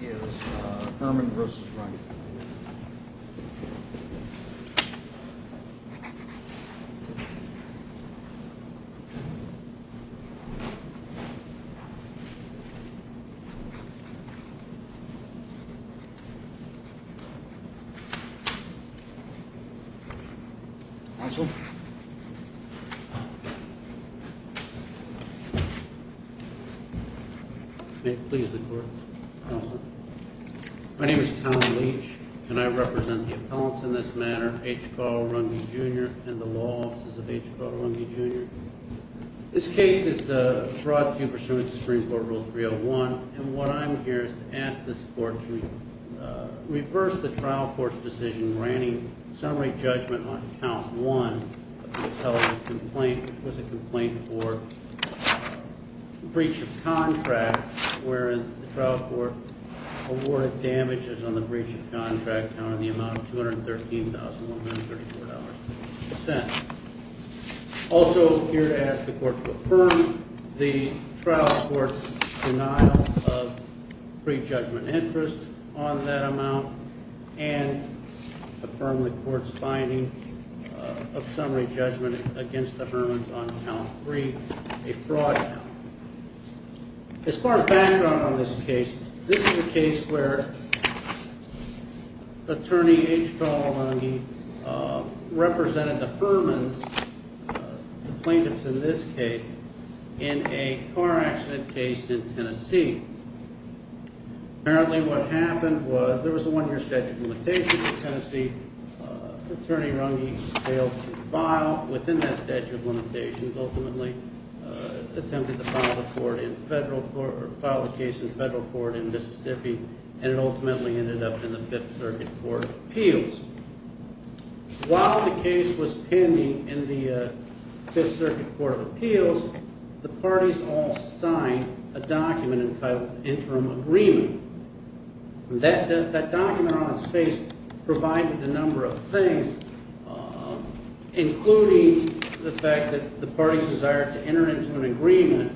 is Hermann v. Runge. Counsel? May it please the Court, Counsel? My name is Tom Leach, and I represent the appellants in this matter, H. Carl Runge Jr. and the law offices of H. Carl Runge Jr. This case is brought to you pursuant to Supreme Court Rule 301. And what I'm here to ask this Court to reverse the trial court's decision granting summary judgment on Count 1 of the appellant's complaint, which was a complaint for breach of contract, wherein the trial court awarded damages on the breach of contract, on the amount of $213,134. Also, I'm here to ask the Court to affirm the trial court's denial of pre-judgment interest on that amount, and affirm the Court's finding of summary judgment against the Hermanns on Count 3, a fraud count. As far as background on this case, this is a case where Attorney H. Carl Runge represented the Hermanns, the plaintiffs in this case, in a car accident case in Tennessee. Apparently what happened was there was a one-year statute of limitations in Tennessee. Attorney Runge failed to file within that statute of limitations, ultimately attempted to file the case in federal court in Mississippi, and it ultimately ended up in the Fifth Circuit Court of Appeals. While the case was pending in the Fifth Circuit Court of Appeals, the parties all signed a document entitled Interim Agreement. That document on its face provided a number of things, including the fact that the parties desired to enter into an agreement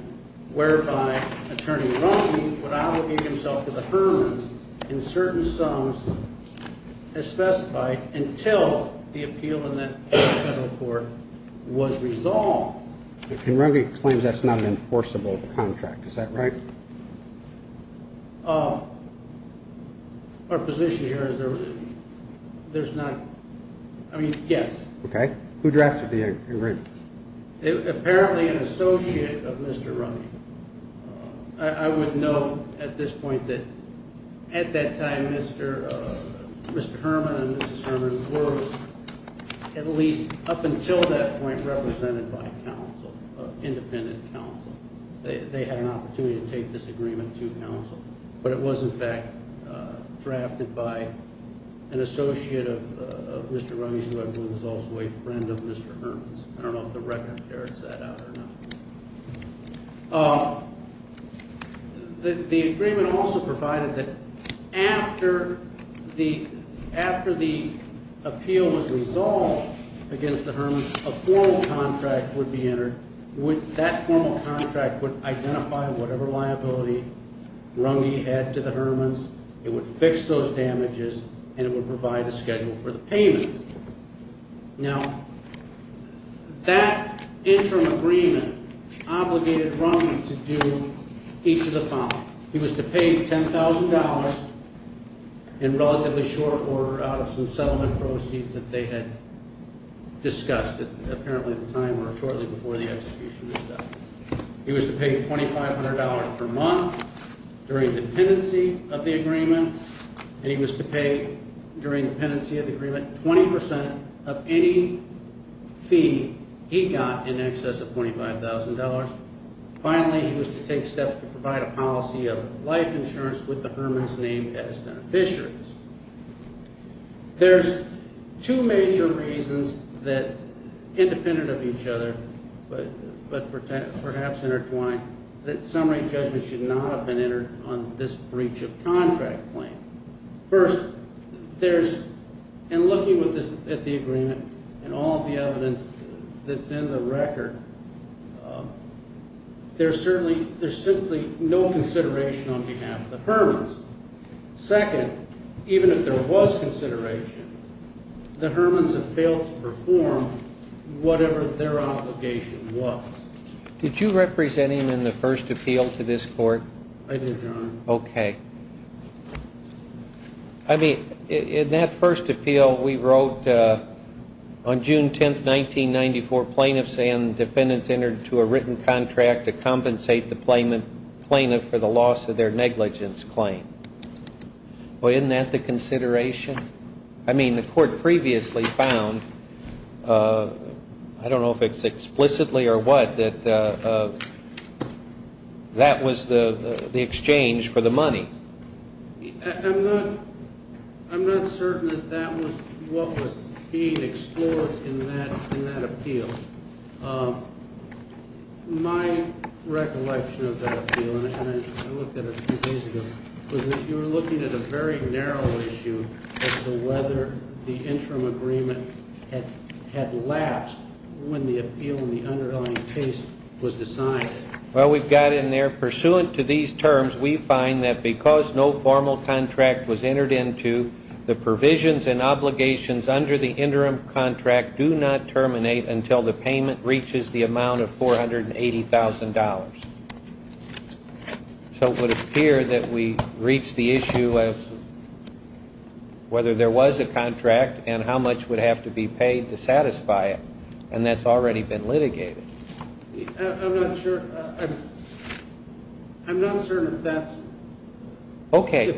whereby Attorney Runge would obligate himself to the Hermanns in certain sums as specified until the appeal in the federal court was resolved. And Runge claims that's not an enforceable contract. Is that right? Our position here is there's not – I mean, yes. Okay. Who drafted the agreement? Apparently an associate of Mr. Runge. I would note at this point that at that time Mr. Hermann and Mrs. Hermann were at least up until that point represented by counsel, independent counsel. They had an opportunity to take this agreement to counsel. But it was, in fact, drafted by an associate of Mr. Runge's who I believe was also a friend of Mr. Hermann's. I don't know if the record carries that out or not. The agreement also provided that after the appeal was resolved against the Hermanns, a formal contract would be entered. That formal contract would identify whatever liability Runge had to the Hermanns, it would fix those damages, and it would provide a schedule for the payment. Now, that interim agreement obligated Runge to do each of the following. He was to pay $10,000 in relatively short order out of some settlement proceeds that they had discussed at apparently the time or shortly before the execution of the statute. He was to pay $2,500 per month during dependency of the agreement, and he was to pay during dependency of the agreement 20% of any fee he got in excess of $25,000. Finally, he was to take steps to provide a policy of life insurance with the Hermanns' name as beneficiaries. There's two major reasons that, independent of each other but perhaps intertwined, that summary judgments should not have been entered on this breach of contract claim. First, in looking at the agreement and all the evidence that's in the record, there's simply no consideration on behalf of the Hermanns. Second, even if there was consideration, the Hermanns have failed to perform whatever their obligation was. Did you represent him in the first appeal to this court? I did, Your Honor. Okay. I mean, in that first appeal we wrote, on June 10th, 1994, plaintiffs and defendants entered into a written contract to compensate the plaintiff for the loss of their negligence claim. Well, isn't that the consideration? I mean, the court previously found, I don't know if it's explicitly or what, that that was the exchange for the money. I'm not certain that that was what was being explored in that appeal. My recollection of that appeal, and I looked at it a few days ago, was that you were looking at a very narrow issue as to whether the interim agreement had lapsed when the appeal in the underlying case was decided. Well, we've got it in there. Pursuant to these terms, we find that because no formal contract was entered into, the provisions and obligations under the interim contract do not terminate until the payment reaches the amount of $480,000. So it would appear that we reached the issue of whether there was a contract and how much would have to be paid to satisfy it, and that's already been litigated. I'm not sure. I'm not certain if that's... Okay.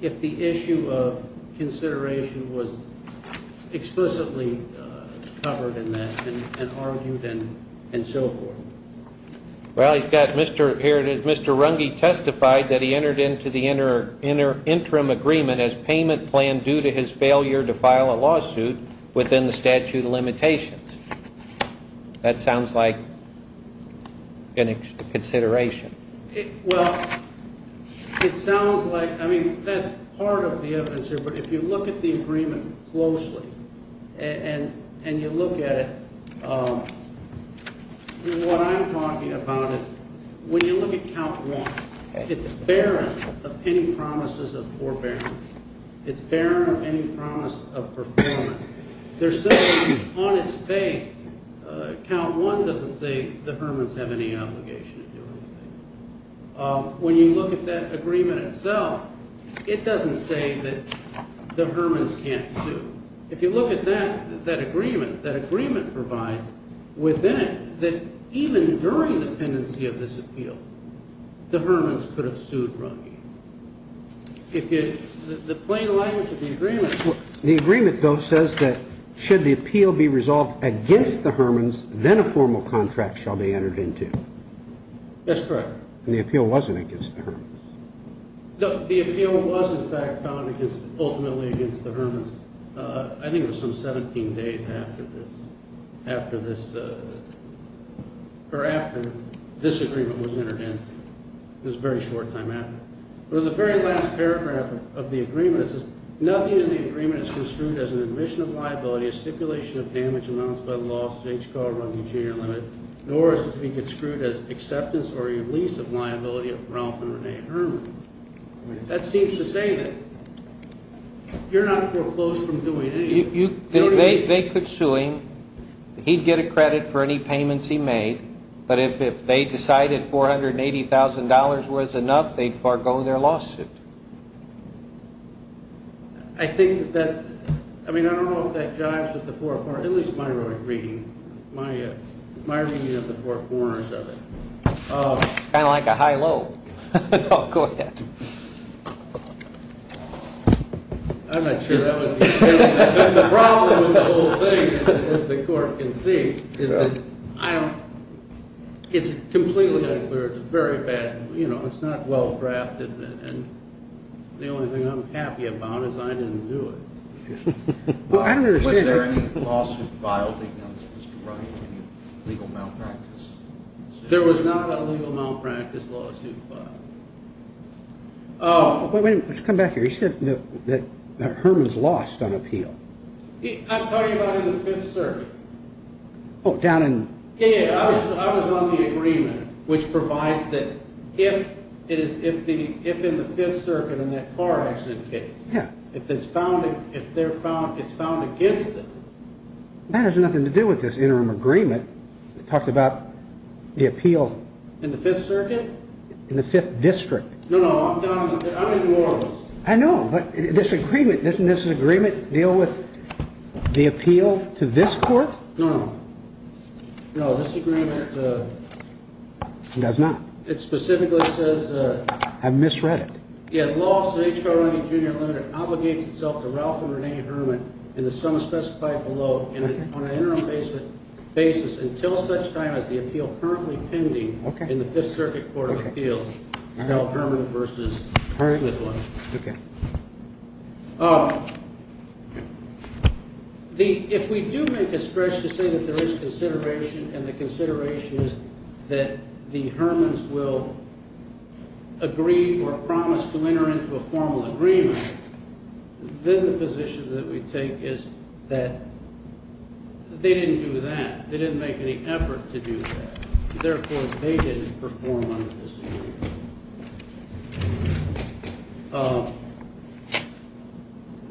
If the issue of consideration was explicitly covered in that and argued and so forth. Well, he's got, Mr. Runge testified that he entered into the interim agreement as payment plan due to his failure to file a lawsuit within the statute of limitations. That sounds like a consideration. Well, it sounds like, I mean, that's part of the evidence here, but if you look at the agreement closely and you look at it, what I'm talking about is when you look at Count 1, it's barren of any promises of forbearance. It's barren of any promise of performance. There's simply, on its face, Count 1 doesn't say the Hermans have any obligation to do anything. When you look at that agreement itself, it doesn't say that the Hermans can't sue. If you look at that agreement, that agreement provides within it that even during the pendency of this appeal, the Hermans could have sued Runge. The plain language of the agreement... The agreement, though, says that should the appeal be resolved against the Hermans, then a formal contract shall be entered into. That's correct. And the appeal wasn't against the Hermans. No, the appeal was, in fact, found ultimately against the Hermans. I think it was some 17 days after this agreement was entered into. It was a very short time after. But in the very last paragraph of the agreement, it says, Nothing in the agreement is construed as an admission of liability, a stipulation of damage amounts by the law of the state's car running junior limit, nor is it to be construed as acceptance or release of liability of Ralph and Renee Herman. That seems to say that you're not foreclosed from doing anything. They could sue him. He'd get a credit for any payments he made. But if they decided $480,000 was enough, they'd forego their lawsuit. I think that... I mean, I don't know if that jives with the four corners, at least my reading of it. It's kind of like a high-low. Go ahead. I'm not sure that was the intention. The problem with the whole thing, as the court can see, is that it's completely unclear. It's very bad. It's not well-drafted. And the only thing I'm happy about is I didn't do it. I don't understand. Was there any lawsuit filed against Mr. Ryan, any legal malpractice? There was not a legal malpractice lawsuit filed. Let's come back here. You said that Herman's lost on appeal. I'm talking about in the Fifth Circuit. Oh, down in... Yeah, yeah. I was on the agreement, which provides that if in the Fifth Circuit in that car accident case, if it's found against them... That has nothing to do with this interim agreement that talked about the appeal... In the Fifth Circuit? In the Fifth District. No, no. I'm down in New Orleans. I know, but this agreement, doesn't this agreement deal with the appeal to this court? No, no. No, this agreement... It does not. It specifically says... I misread it. Lawsuit H.R. Ryan Jr. Limited obligates itself to Ralph and Renee Herman in the sum specified below on an interim basis until such time as the appeal currently pending in the Fifth Circuit Court of Appeals. If we do make a stretch to say that there is consideration, and the consideration is that the Hermans will agree or promise to enter into a formal agreement, then the position that we take is that they didn't do that. They didn't make any effort to do that. Therefore, they didn't perform under this agreement.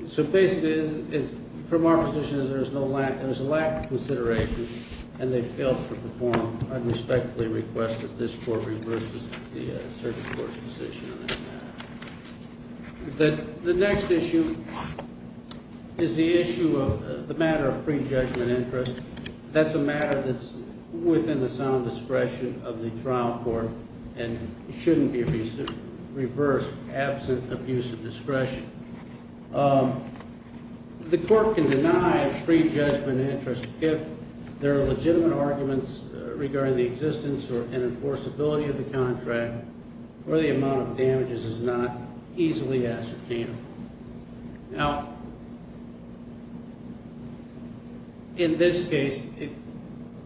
So basically, from our position, there's a lack of consideration, and they failed to perform, I respectfully request that this court reverse the circuit court's decision on that matter. The next issue is the issue of the matter of pre-judgment interest. That's a matter that's within the sound discretion of the trial court and shouldn't be reversed absent abuse of discretion. The court can deny pre-judgment interest if there are legitimate arguments regarding the existence or enforceability of the contract or the amount of damages is not easily ascertainable. Now, in this case,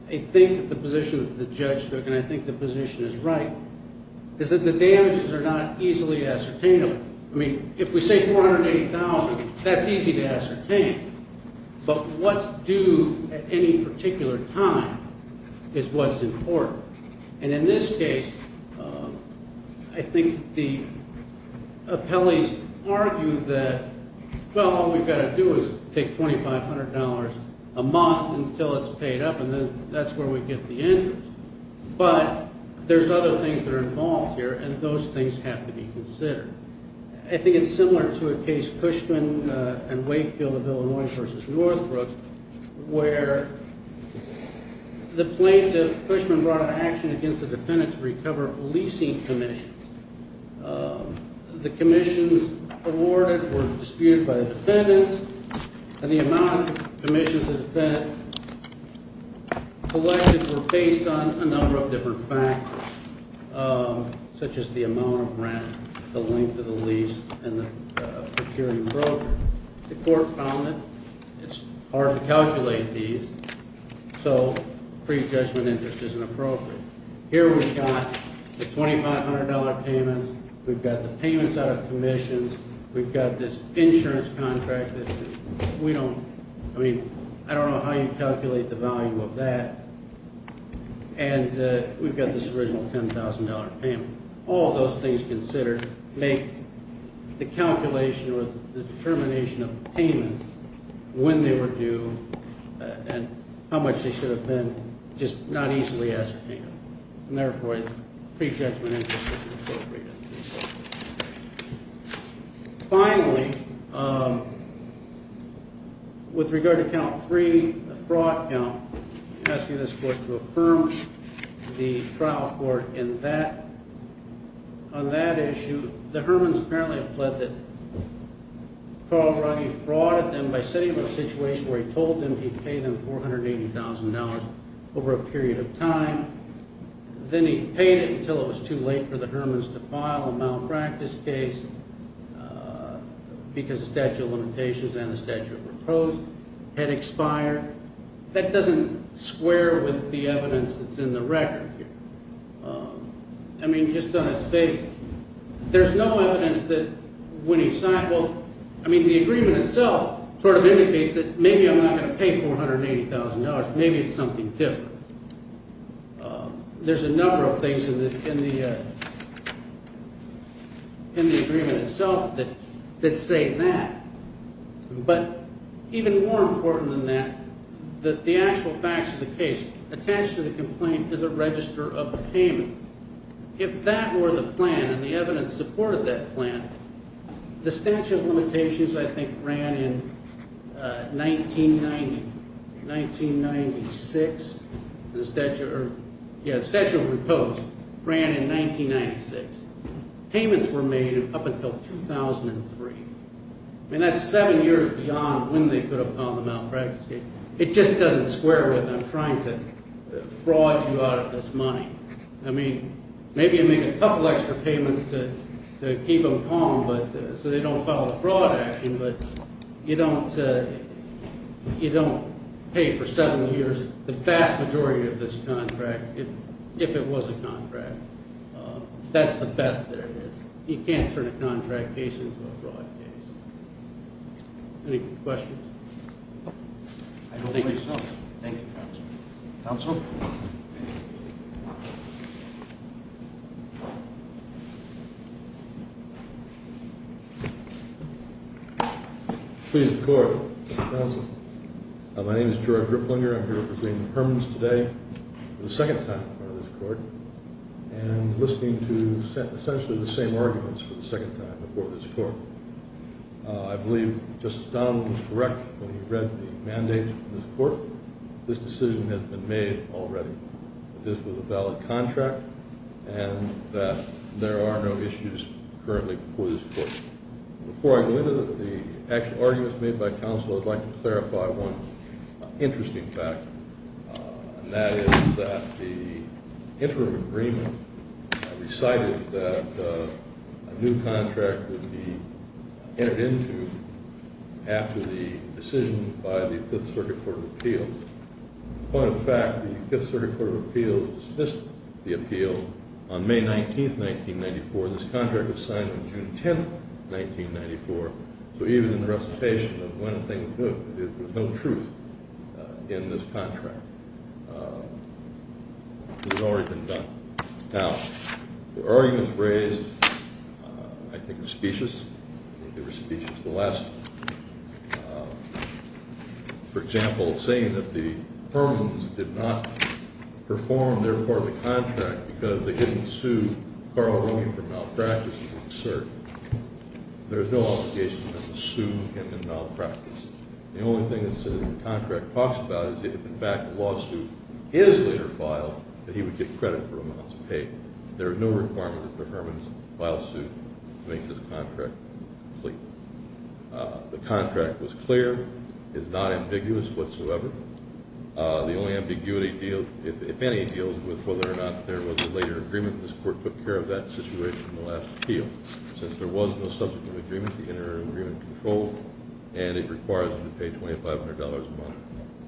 I think that the position that the judge took, and I think the position is right, is that the damages are not easily ascertainable. I mean, if we say $480,000, that's easy to ascertain. But what's due at any particular time is what's important. And in this case, I think the appellees argue that, well, all we've got to do is take $2,500 a month until it's paid up, and then that's where we get the interest. But there's other things that are involved here, and those things have to be considered. I think it's similar to a case, Cushman and Wakefield of Illinois v. Northbrook, where the plaintiff, Cushman, brought an action against the defendant to recover leasing commissions. The commissions awarded were disputed by the defendants, and the amount of commissions the defendant collected were based on a number of different factors, such as the amount of rent, the length of the lease, and the procuring broker. The court found that it's hard to calculate these, so pre-judgment interest isn't appropriate. Here we've got the $2,500 payments. We've got the payments out of commissions. We've got this insurance contract that we don't, I mean, I don't know how you calculate the value of that. And we've got this original $10,000 payment. All those things considered make the calculation or the determination of payments when they were due and how much they should have been just not easily ascertained. And therefore, pre-judgment interest isn't appropriate. Finally, with regard to count three, the fraud count, I'm asking this court to affirm the trial court in that. On that issue, the Hermans apparently have pled that Carl Ruggie frauded them by setting them in a situation where he told them he'd pay them $480,000 over a period of time. Then he paid it until it was too late for the Hermans to file a malpractice case because the statute of limitations and the statute of repose had expired. That doesn't square with the evidence that's in the record here. I mean, just on its face, there's no evidence that when he signed, well, I mean, the agreement itself sort of indicates that maybe I'm not going to pay $480,000. Maybe it's something different. There's a number of things in the agreement itself that say that. But even more important than that, that the actual facts of the case attached to the complaint is a register of the payments. If that were the plan and the evidence supported that plan, the statute of limitations, I think, ran in 1990, 1996. The statute of repose ran in 1996. Payments were made up until 2003. I mean, that's seven years beyond when they could have filed the malpractice case. It just doesn't square with them trying to fraud you out of this money. I mean, maybe you make a couple extra payments to keep them calm so they don't file a fraud action, but you don't pay for seven years the vast majority of this contract if it was a contract. That's the best that it is. He can't turn a contract case into a fraud case. Any questions? I believe so. Thank you, Counsel. Counsel? Please, the Court. Counsel. My name is George Ripplinger. I'm here representing the Hermans today for the second time in front of this Court. And listening to essentially the same arguments for the second time before this Court. I believe Justice Donald was correct when he read the mandate from this Court. This decision has been made already that this was a valid contract and that there are no issues currently before this Court. Before I go into the actual arguments made by Counsel, I'd like to clarify one interesting fact, and that is that the interim agreement decided that a new contract would be entered into after the decision by the Fifth Circuit Court of Appeals. Point of fact, the Fifth Circuit Court of Appeals dismissed the appeal on May 19, 1994. This contract was signed on June 10, 1994. So even in the recitation of When Things Look, there's no truth in this contract. It had already been done. Now, the arguments raised, I think, were specious. They were specious. The last, for example, saying that the Hermans did not perform their part of the contract because they didn't sue Carl Ehrman for malpractice is absurd. There's no obligation to sue him in malpractice. The only thing this contract talks about is if, in fact, a lawsuit is later filed, that he would get credit for amounts paid. There are no requirements for Hermans to file a suit to make this contract complete. The contract was clear. It's not ambiguous whatsoever. The only ambiguity deals, if any, deals with whether or not there was a later agreement. This court took care of that situation in the last appeal. Since there was no subsequent agreement, the interim agreement controlled, and it requires him to pay $2,500 a month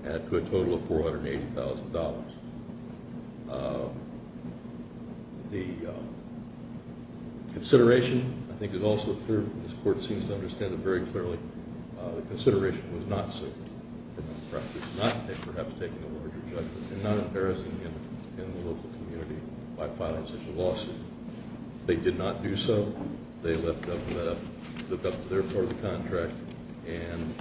and a good total of $480,000. The consideration, I think, is also clear. This court seems to understand it very clearly. The consideration was not suitable for malpractice, not perhaps taking a larger judgment and not embarrassing him in the local community by filing such a lawsuit. They did not do so. They left up their part of the contract, and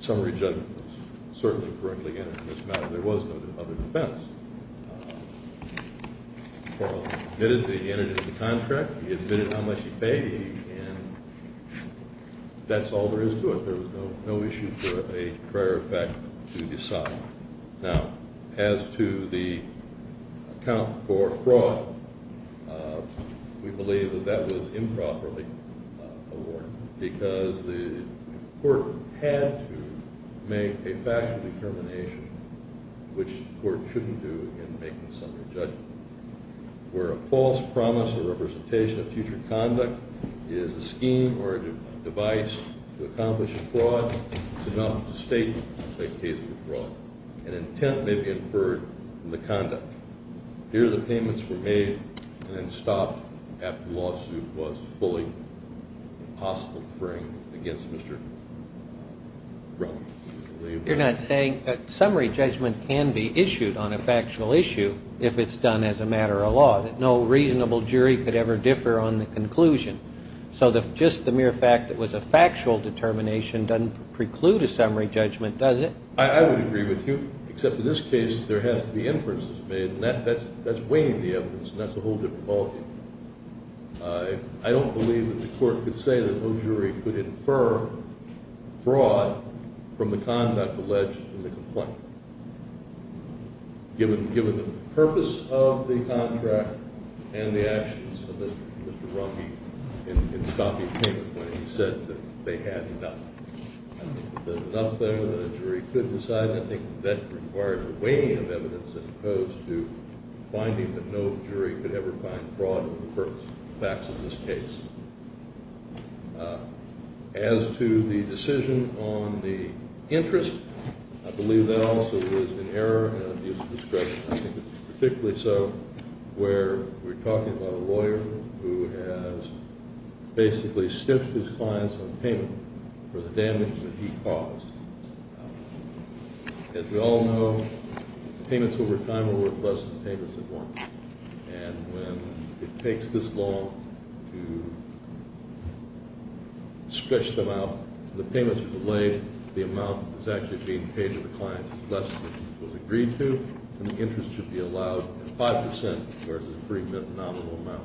summary judgment was certainly incorrectly entered in this matter. There was no other defense. Carl admitted that he entered into the contract. He admitted how much he paid. That's all there is to it. There was no issue for a prior effect to decide. Now, as to the account for fraud, we believe that that was improperly awarded because the court had to make a factual determination, which the court shouldn't do in making a summary judgment. Where a false promise or representation of future conduct is a scheme or a device to accomplish a fraud, it's enough to state that it's a case of fraud. An intent may be inferred from the conduct. Here, the payments were made and then stopped after the lawsuit was fully impossible to bring against Mr. Brown. You're not saying a summary judgment can be issued on a factual issue if it's done as a matter of law, that no reasonable jury could ever differ on the conclusion. So just the mere fact that it was a factual determination doesn't preclude a summary judgment, does it? I would agree with you, except in this case there has to be inferences made, and that's weighing the evidence, and that's a whole different ballgame. I don't believe that the court could say that no jury could infer fraud from the conduct alleged in the complaint, given the purpose of the contract and the actions of Mr. Runge in stopping payment when he said that they had enough. I think if there's enough there that a jury could decide, I think that requires a weighing of evidence as opposed to finding that no jury could ever find fraud in the facts of this case. As to the decision on the interest, I believe that also is an error and an abuse of discretion. I think it's particularly so where we're talking about a lawyer who has basically stiffed his clients on payment for the damage that he caused. As we all know, payments over time are worth less than payments at once, and when it takes this long to stretch them out, the payments are delayed, the amount that's actually being paid to the client is less than it was agreed to, and the interest should be allowed at 5 percent versus the pre-mint nominal amount.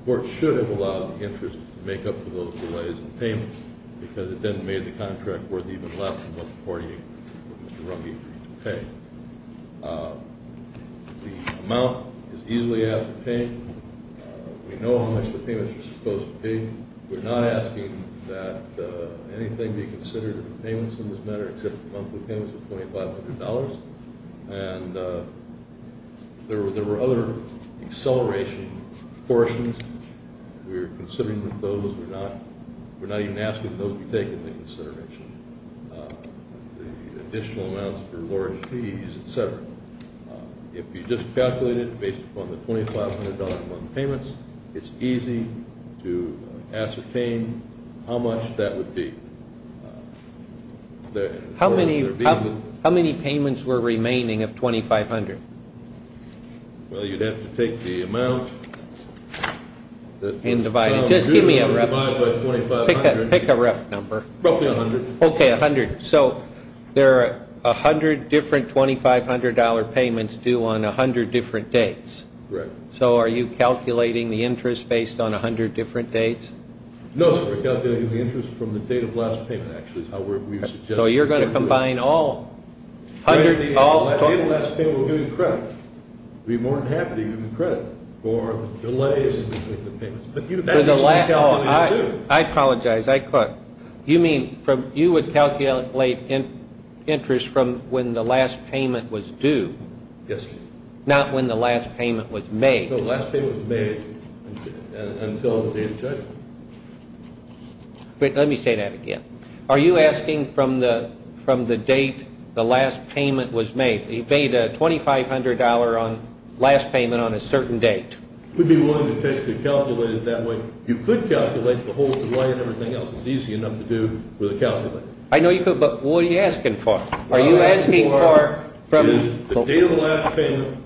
The court should have allowed the interest to make up for those delays in payment because it then made the contract worth even less than what the party agreed to pay. The amount is easily asked to pay. We know how much the payments are supposed to pay. We're not asking that anything be considered in the payments in this matter except the monthly payments of $2,500, and there were other acceleration portions. We're considering that those were not. We're not even asking that those be taken into consideration, the additional amounts for lawyer's fees, et cetera. If you just calculate it based upon the $2,500-a-month payments, it's easy to ascertain how much that would be. How many payments were remaining of $2,500? Well, you'd have to take the amount. And divide it. Just give me a rough number. Pick a rough number. Roughly $100. Okay, $100. So there are 100 different $2,500 payments due on 100 different dates. Correct. So are you calculating the interest based on 100 different dates? No, sir. We're calculating the interest from the date of last payment, actually, is how we're suggesting. So you're going to combine all? The date of last payment we're giving credit. We'd be more than happy to give you credit for the delays in the payments. But that's the same calculation, too. I apologize. You mean you would calculate interest from when the last payment was due? Yes, sir. Not when the last payment was made? No, the last payment was made until the date of judgment. Let me say that again. Are you asking from the date the last payment was made? You paid $2,500 on last payment on a certain date. We'd be willing to calculate it that way. You could calculate the whole delay and everything else. It's easy enough to do with a calculator. I know you could, but what are you asking for? It is the date of the last payment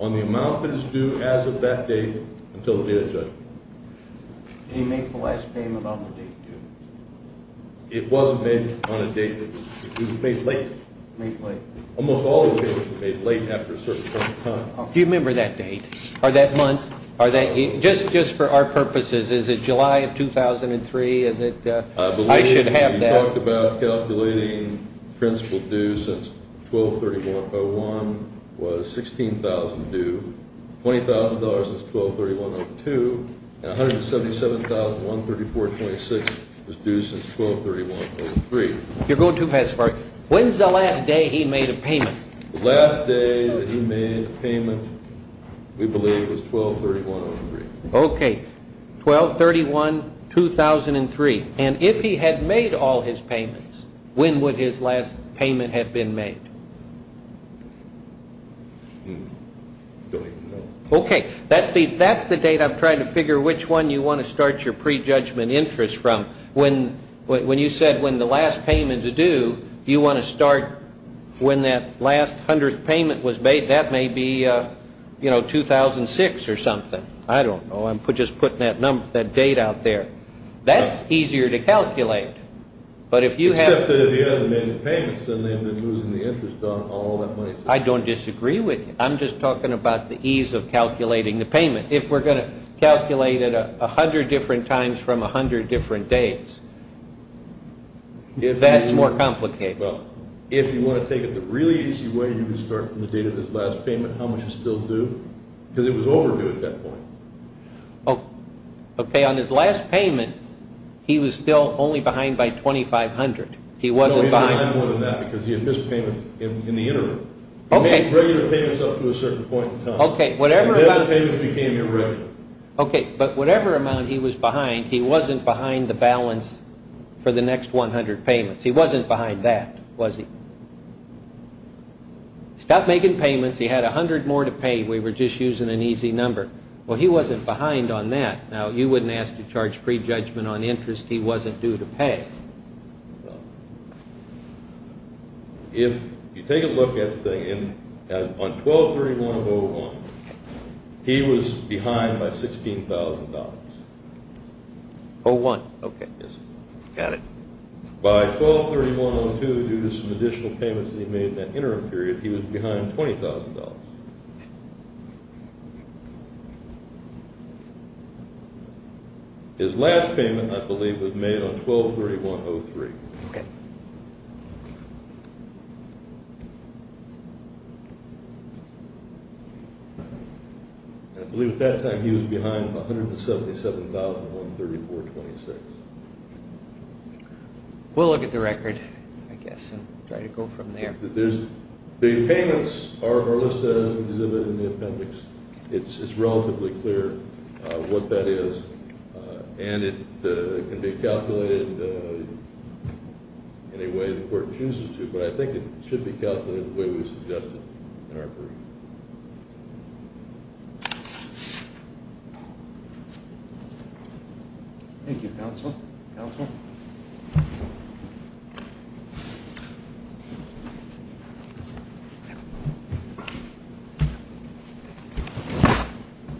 on the amount that is due as of that date until the date of judgment. Did he make the last payment on the date due? It was made on a date that was due. It was made late. Made late. Almost all the payments were made late after a certain point in time. Do you remember that date or that month? Just for our purposes, is it July of 2003? I should have that. We talked about calculating principal due since 12-31-01 was $16,000 due, $20,000 since 12-31-02, and $177,134.26 was due since 12-31-03. You're going too fast for it. When's the last day he made a payment? The last day that he made a payment, we believe, was 12-31-03. Okay. 12-31-2003. And if he had made all his payments, when would his last payment have been made? I don't even know. Okay. That's the date I'm trying to figure which one you want to start your prejudgment interest from. When you said when the last payment is due, you want to start when that last hundredth payment was made. That may be 2006 or something. I don't know. I'm just putting that date out there. That's easier to calculate. Except that if he hasn't made the payments, then they've been losing the interest on all that money. I don't disagree with you. I'm just talking about the ease of calculating the payment. If we're going to calculate it a hundred different times from a hundred different dates, that's more complicated. If you want to take it the really easy way, you can start from the date of his last payment. How much is still due? Because it was overdue at that point. Okay. On his last payment, he was still only behind by $2,500. No, he was behind more than that because he had missed payments in the interim. He made regular payments up to a certain point in time, and then the payments became irregular. Okay. But whatever amount he was behind, he wasn't behind the balance for the next 100 payments. He wasn't behind that, was he? He stopped making payments. He had a hundred more to pay. We were just using an easy number. Well, he wasn't behind on that. Now, you wouldn't ask to charge prejudgment on interest. He wasn't due to pay. If you take a look at the thing, on 12-31-01, he was behind by $16,000. 01. Okay. Got it. By 12-31-02, due to some additional payments that he made in that interim period, he was behind $20,000. His last payment, I believe, was made on 12-31-03. Okay. I believe at that time he was behind $177,134.26. We'll look at the record, I guess, and try to go from there. The payments are listed in the appendix. It's relatively clear what that is, and it can be calculated any way the court chooses to, but I think it should be calculated the way we suggested in our brief. Thank you, counsel. Counsel?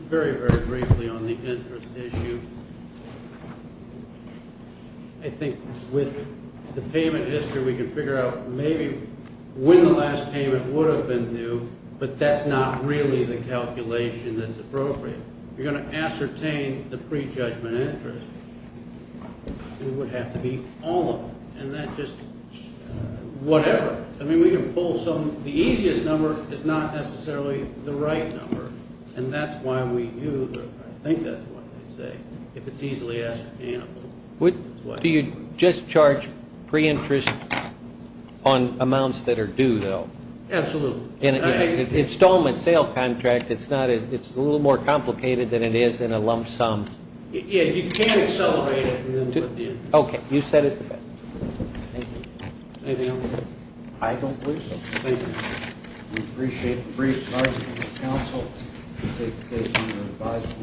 Very, very briefly on the interest issue. I think with the payment history, we can figure out maybe when the last payment would have been due, but that's not really the calculation that's appropriate. You're going to ascertain the prejudgment interest. It would have to be all of it, and that just whatever. I mean, we can pull some. The easiest number is not necessarily the right number, and that's why we use it. I think that's what they say. If it's easily ascertainable. Do you just charge pre-interest on amounts that are due, though? Absolutely. In an installment sale contract, it's a little more complicated than it is in a lump sum. Yeah, you can't accelerate it. Okay. You said it. Thank you. Anything else? I don't believe so. Thank you. We appreciate the brief. Thank you, counsel.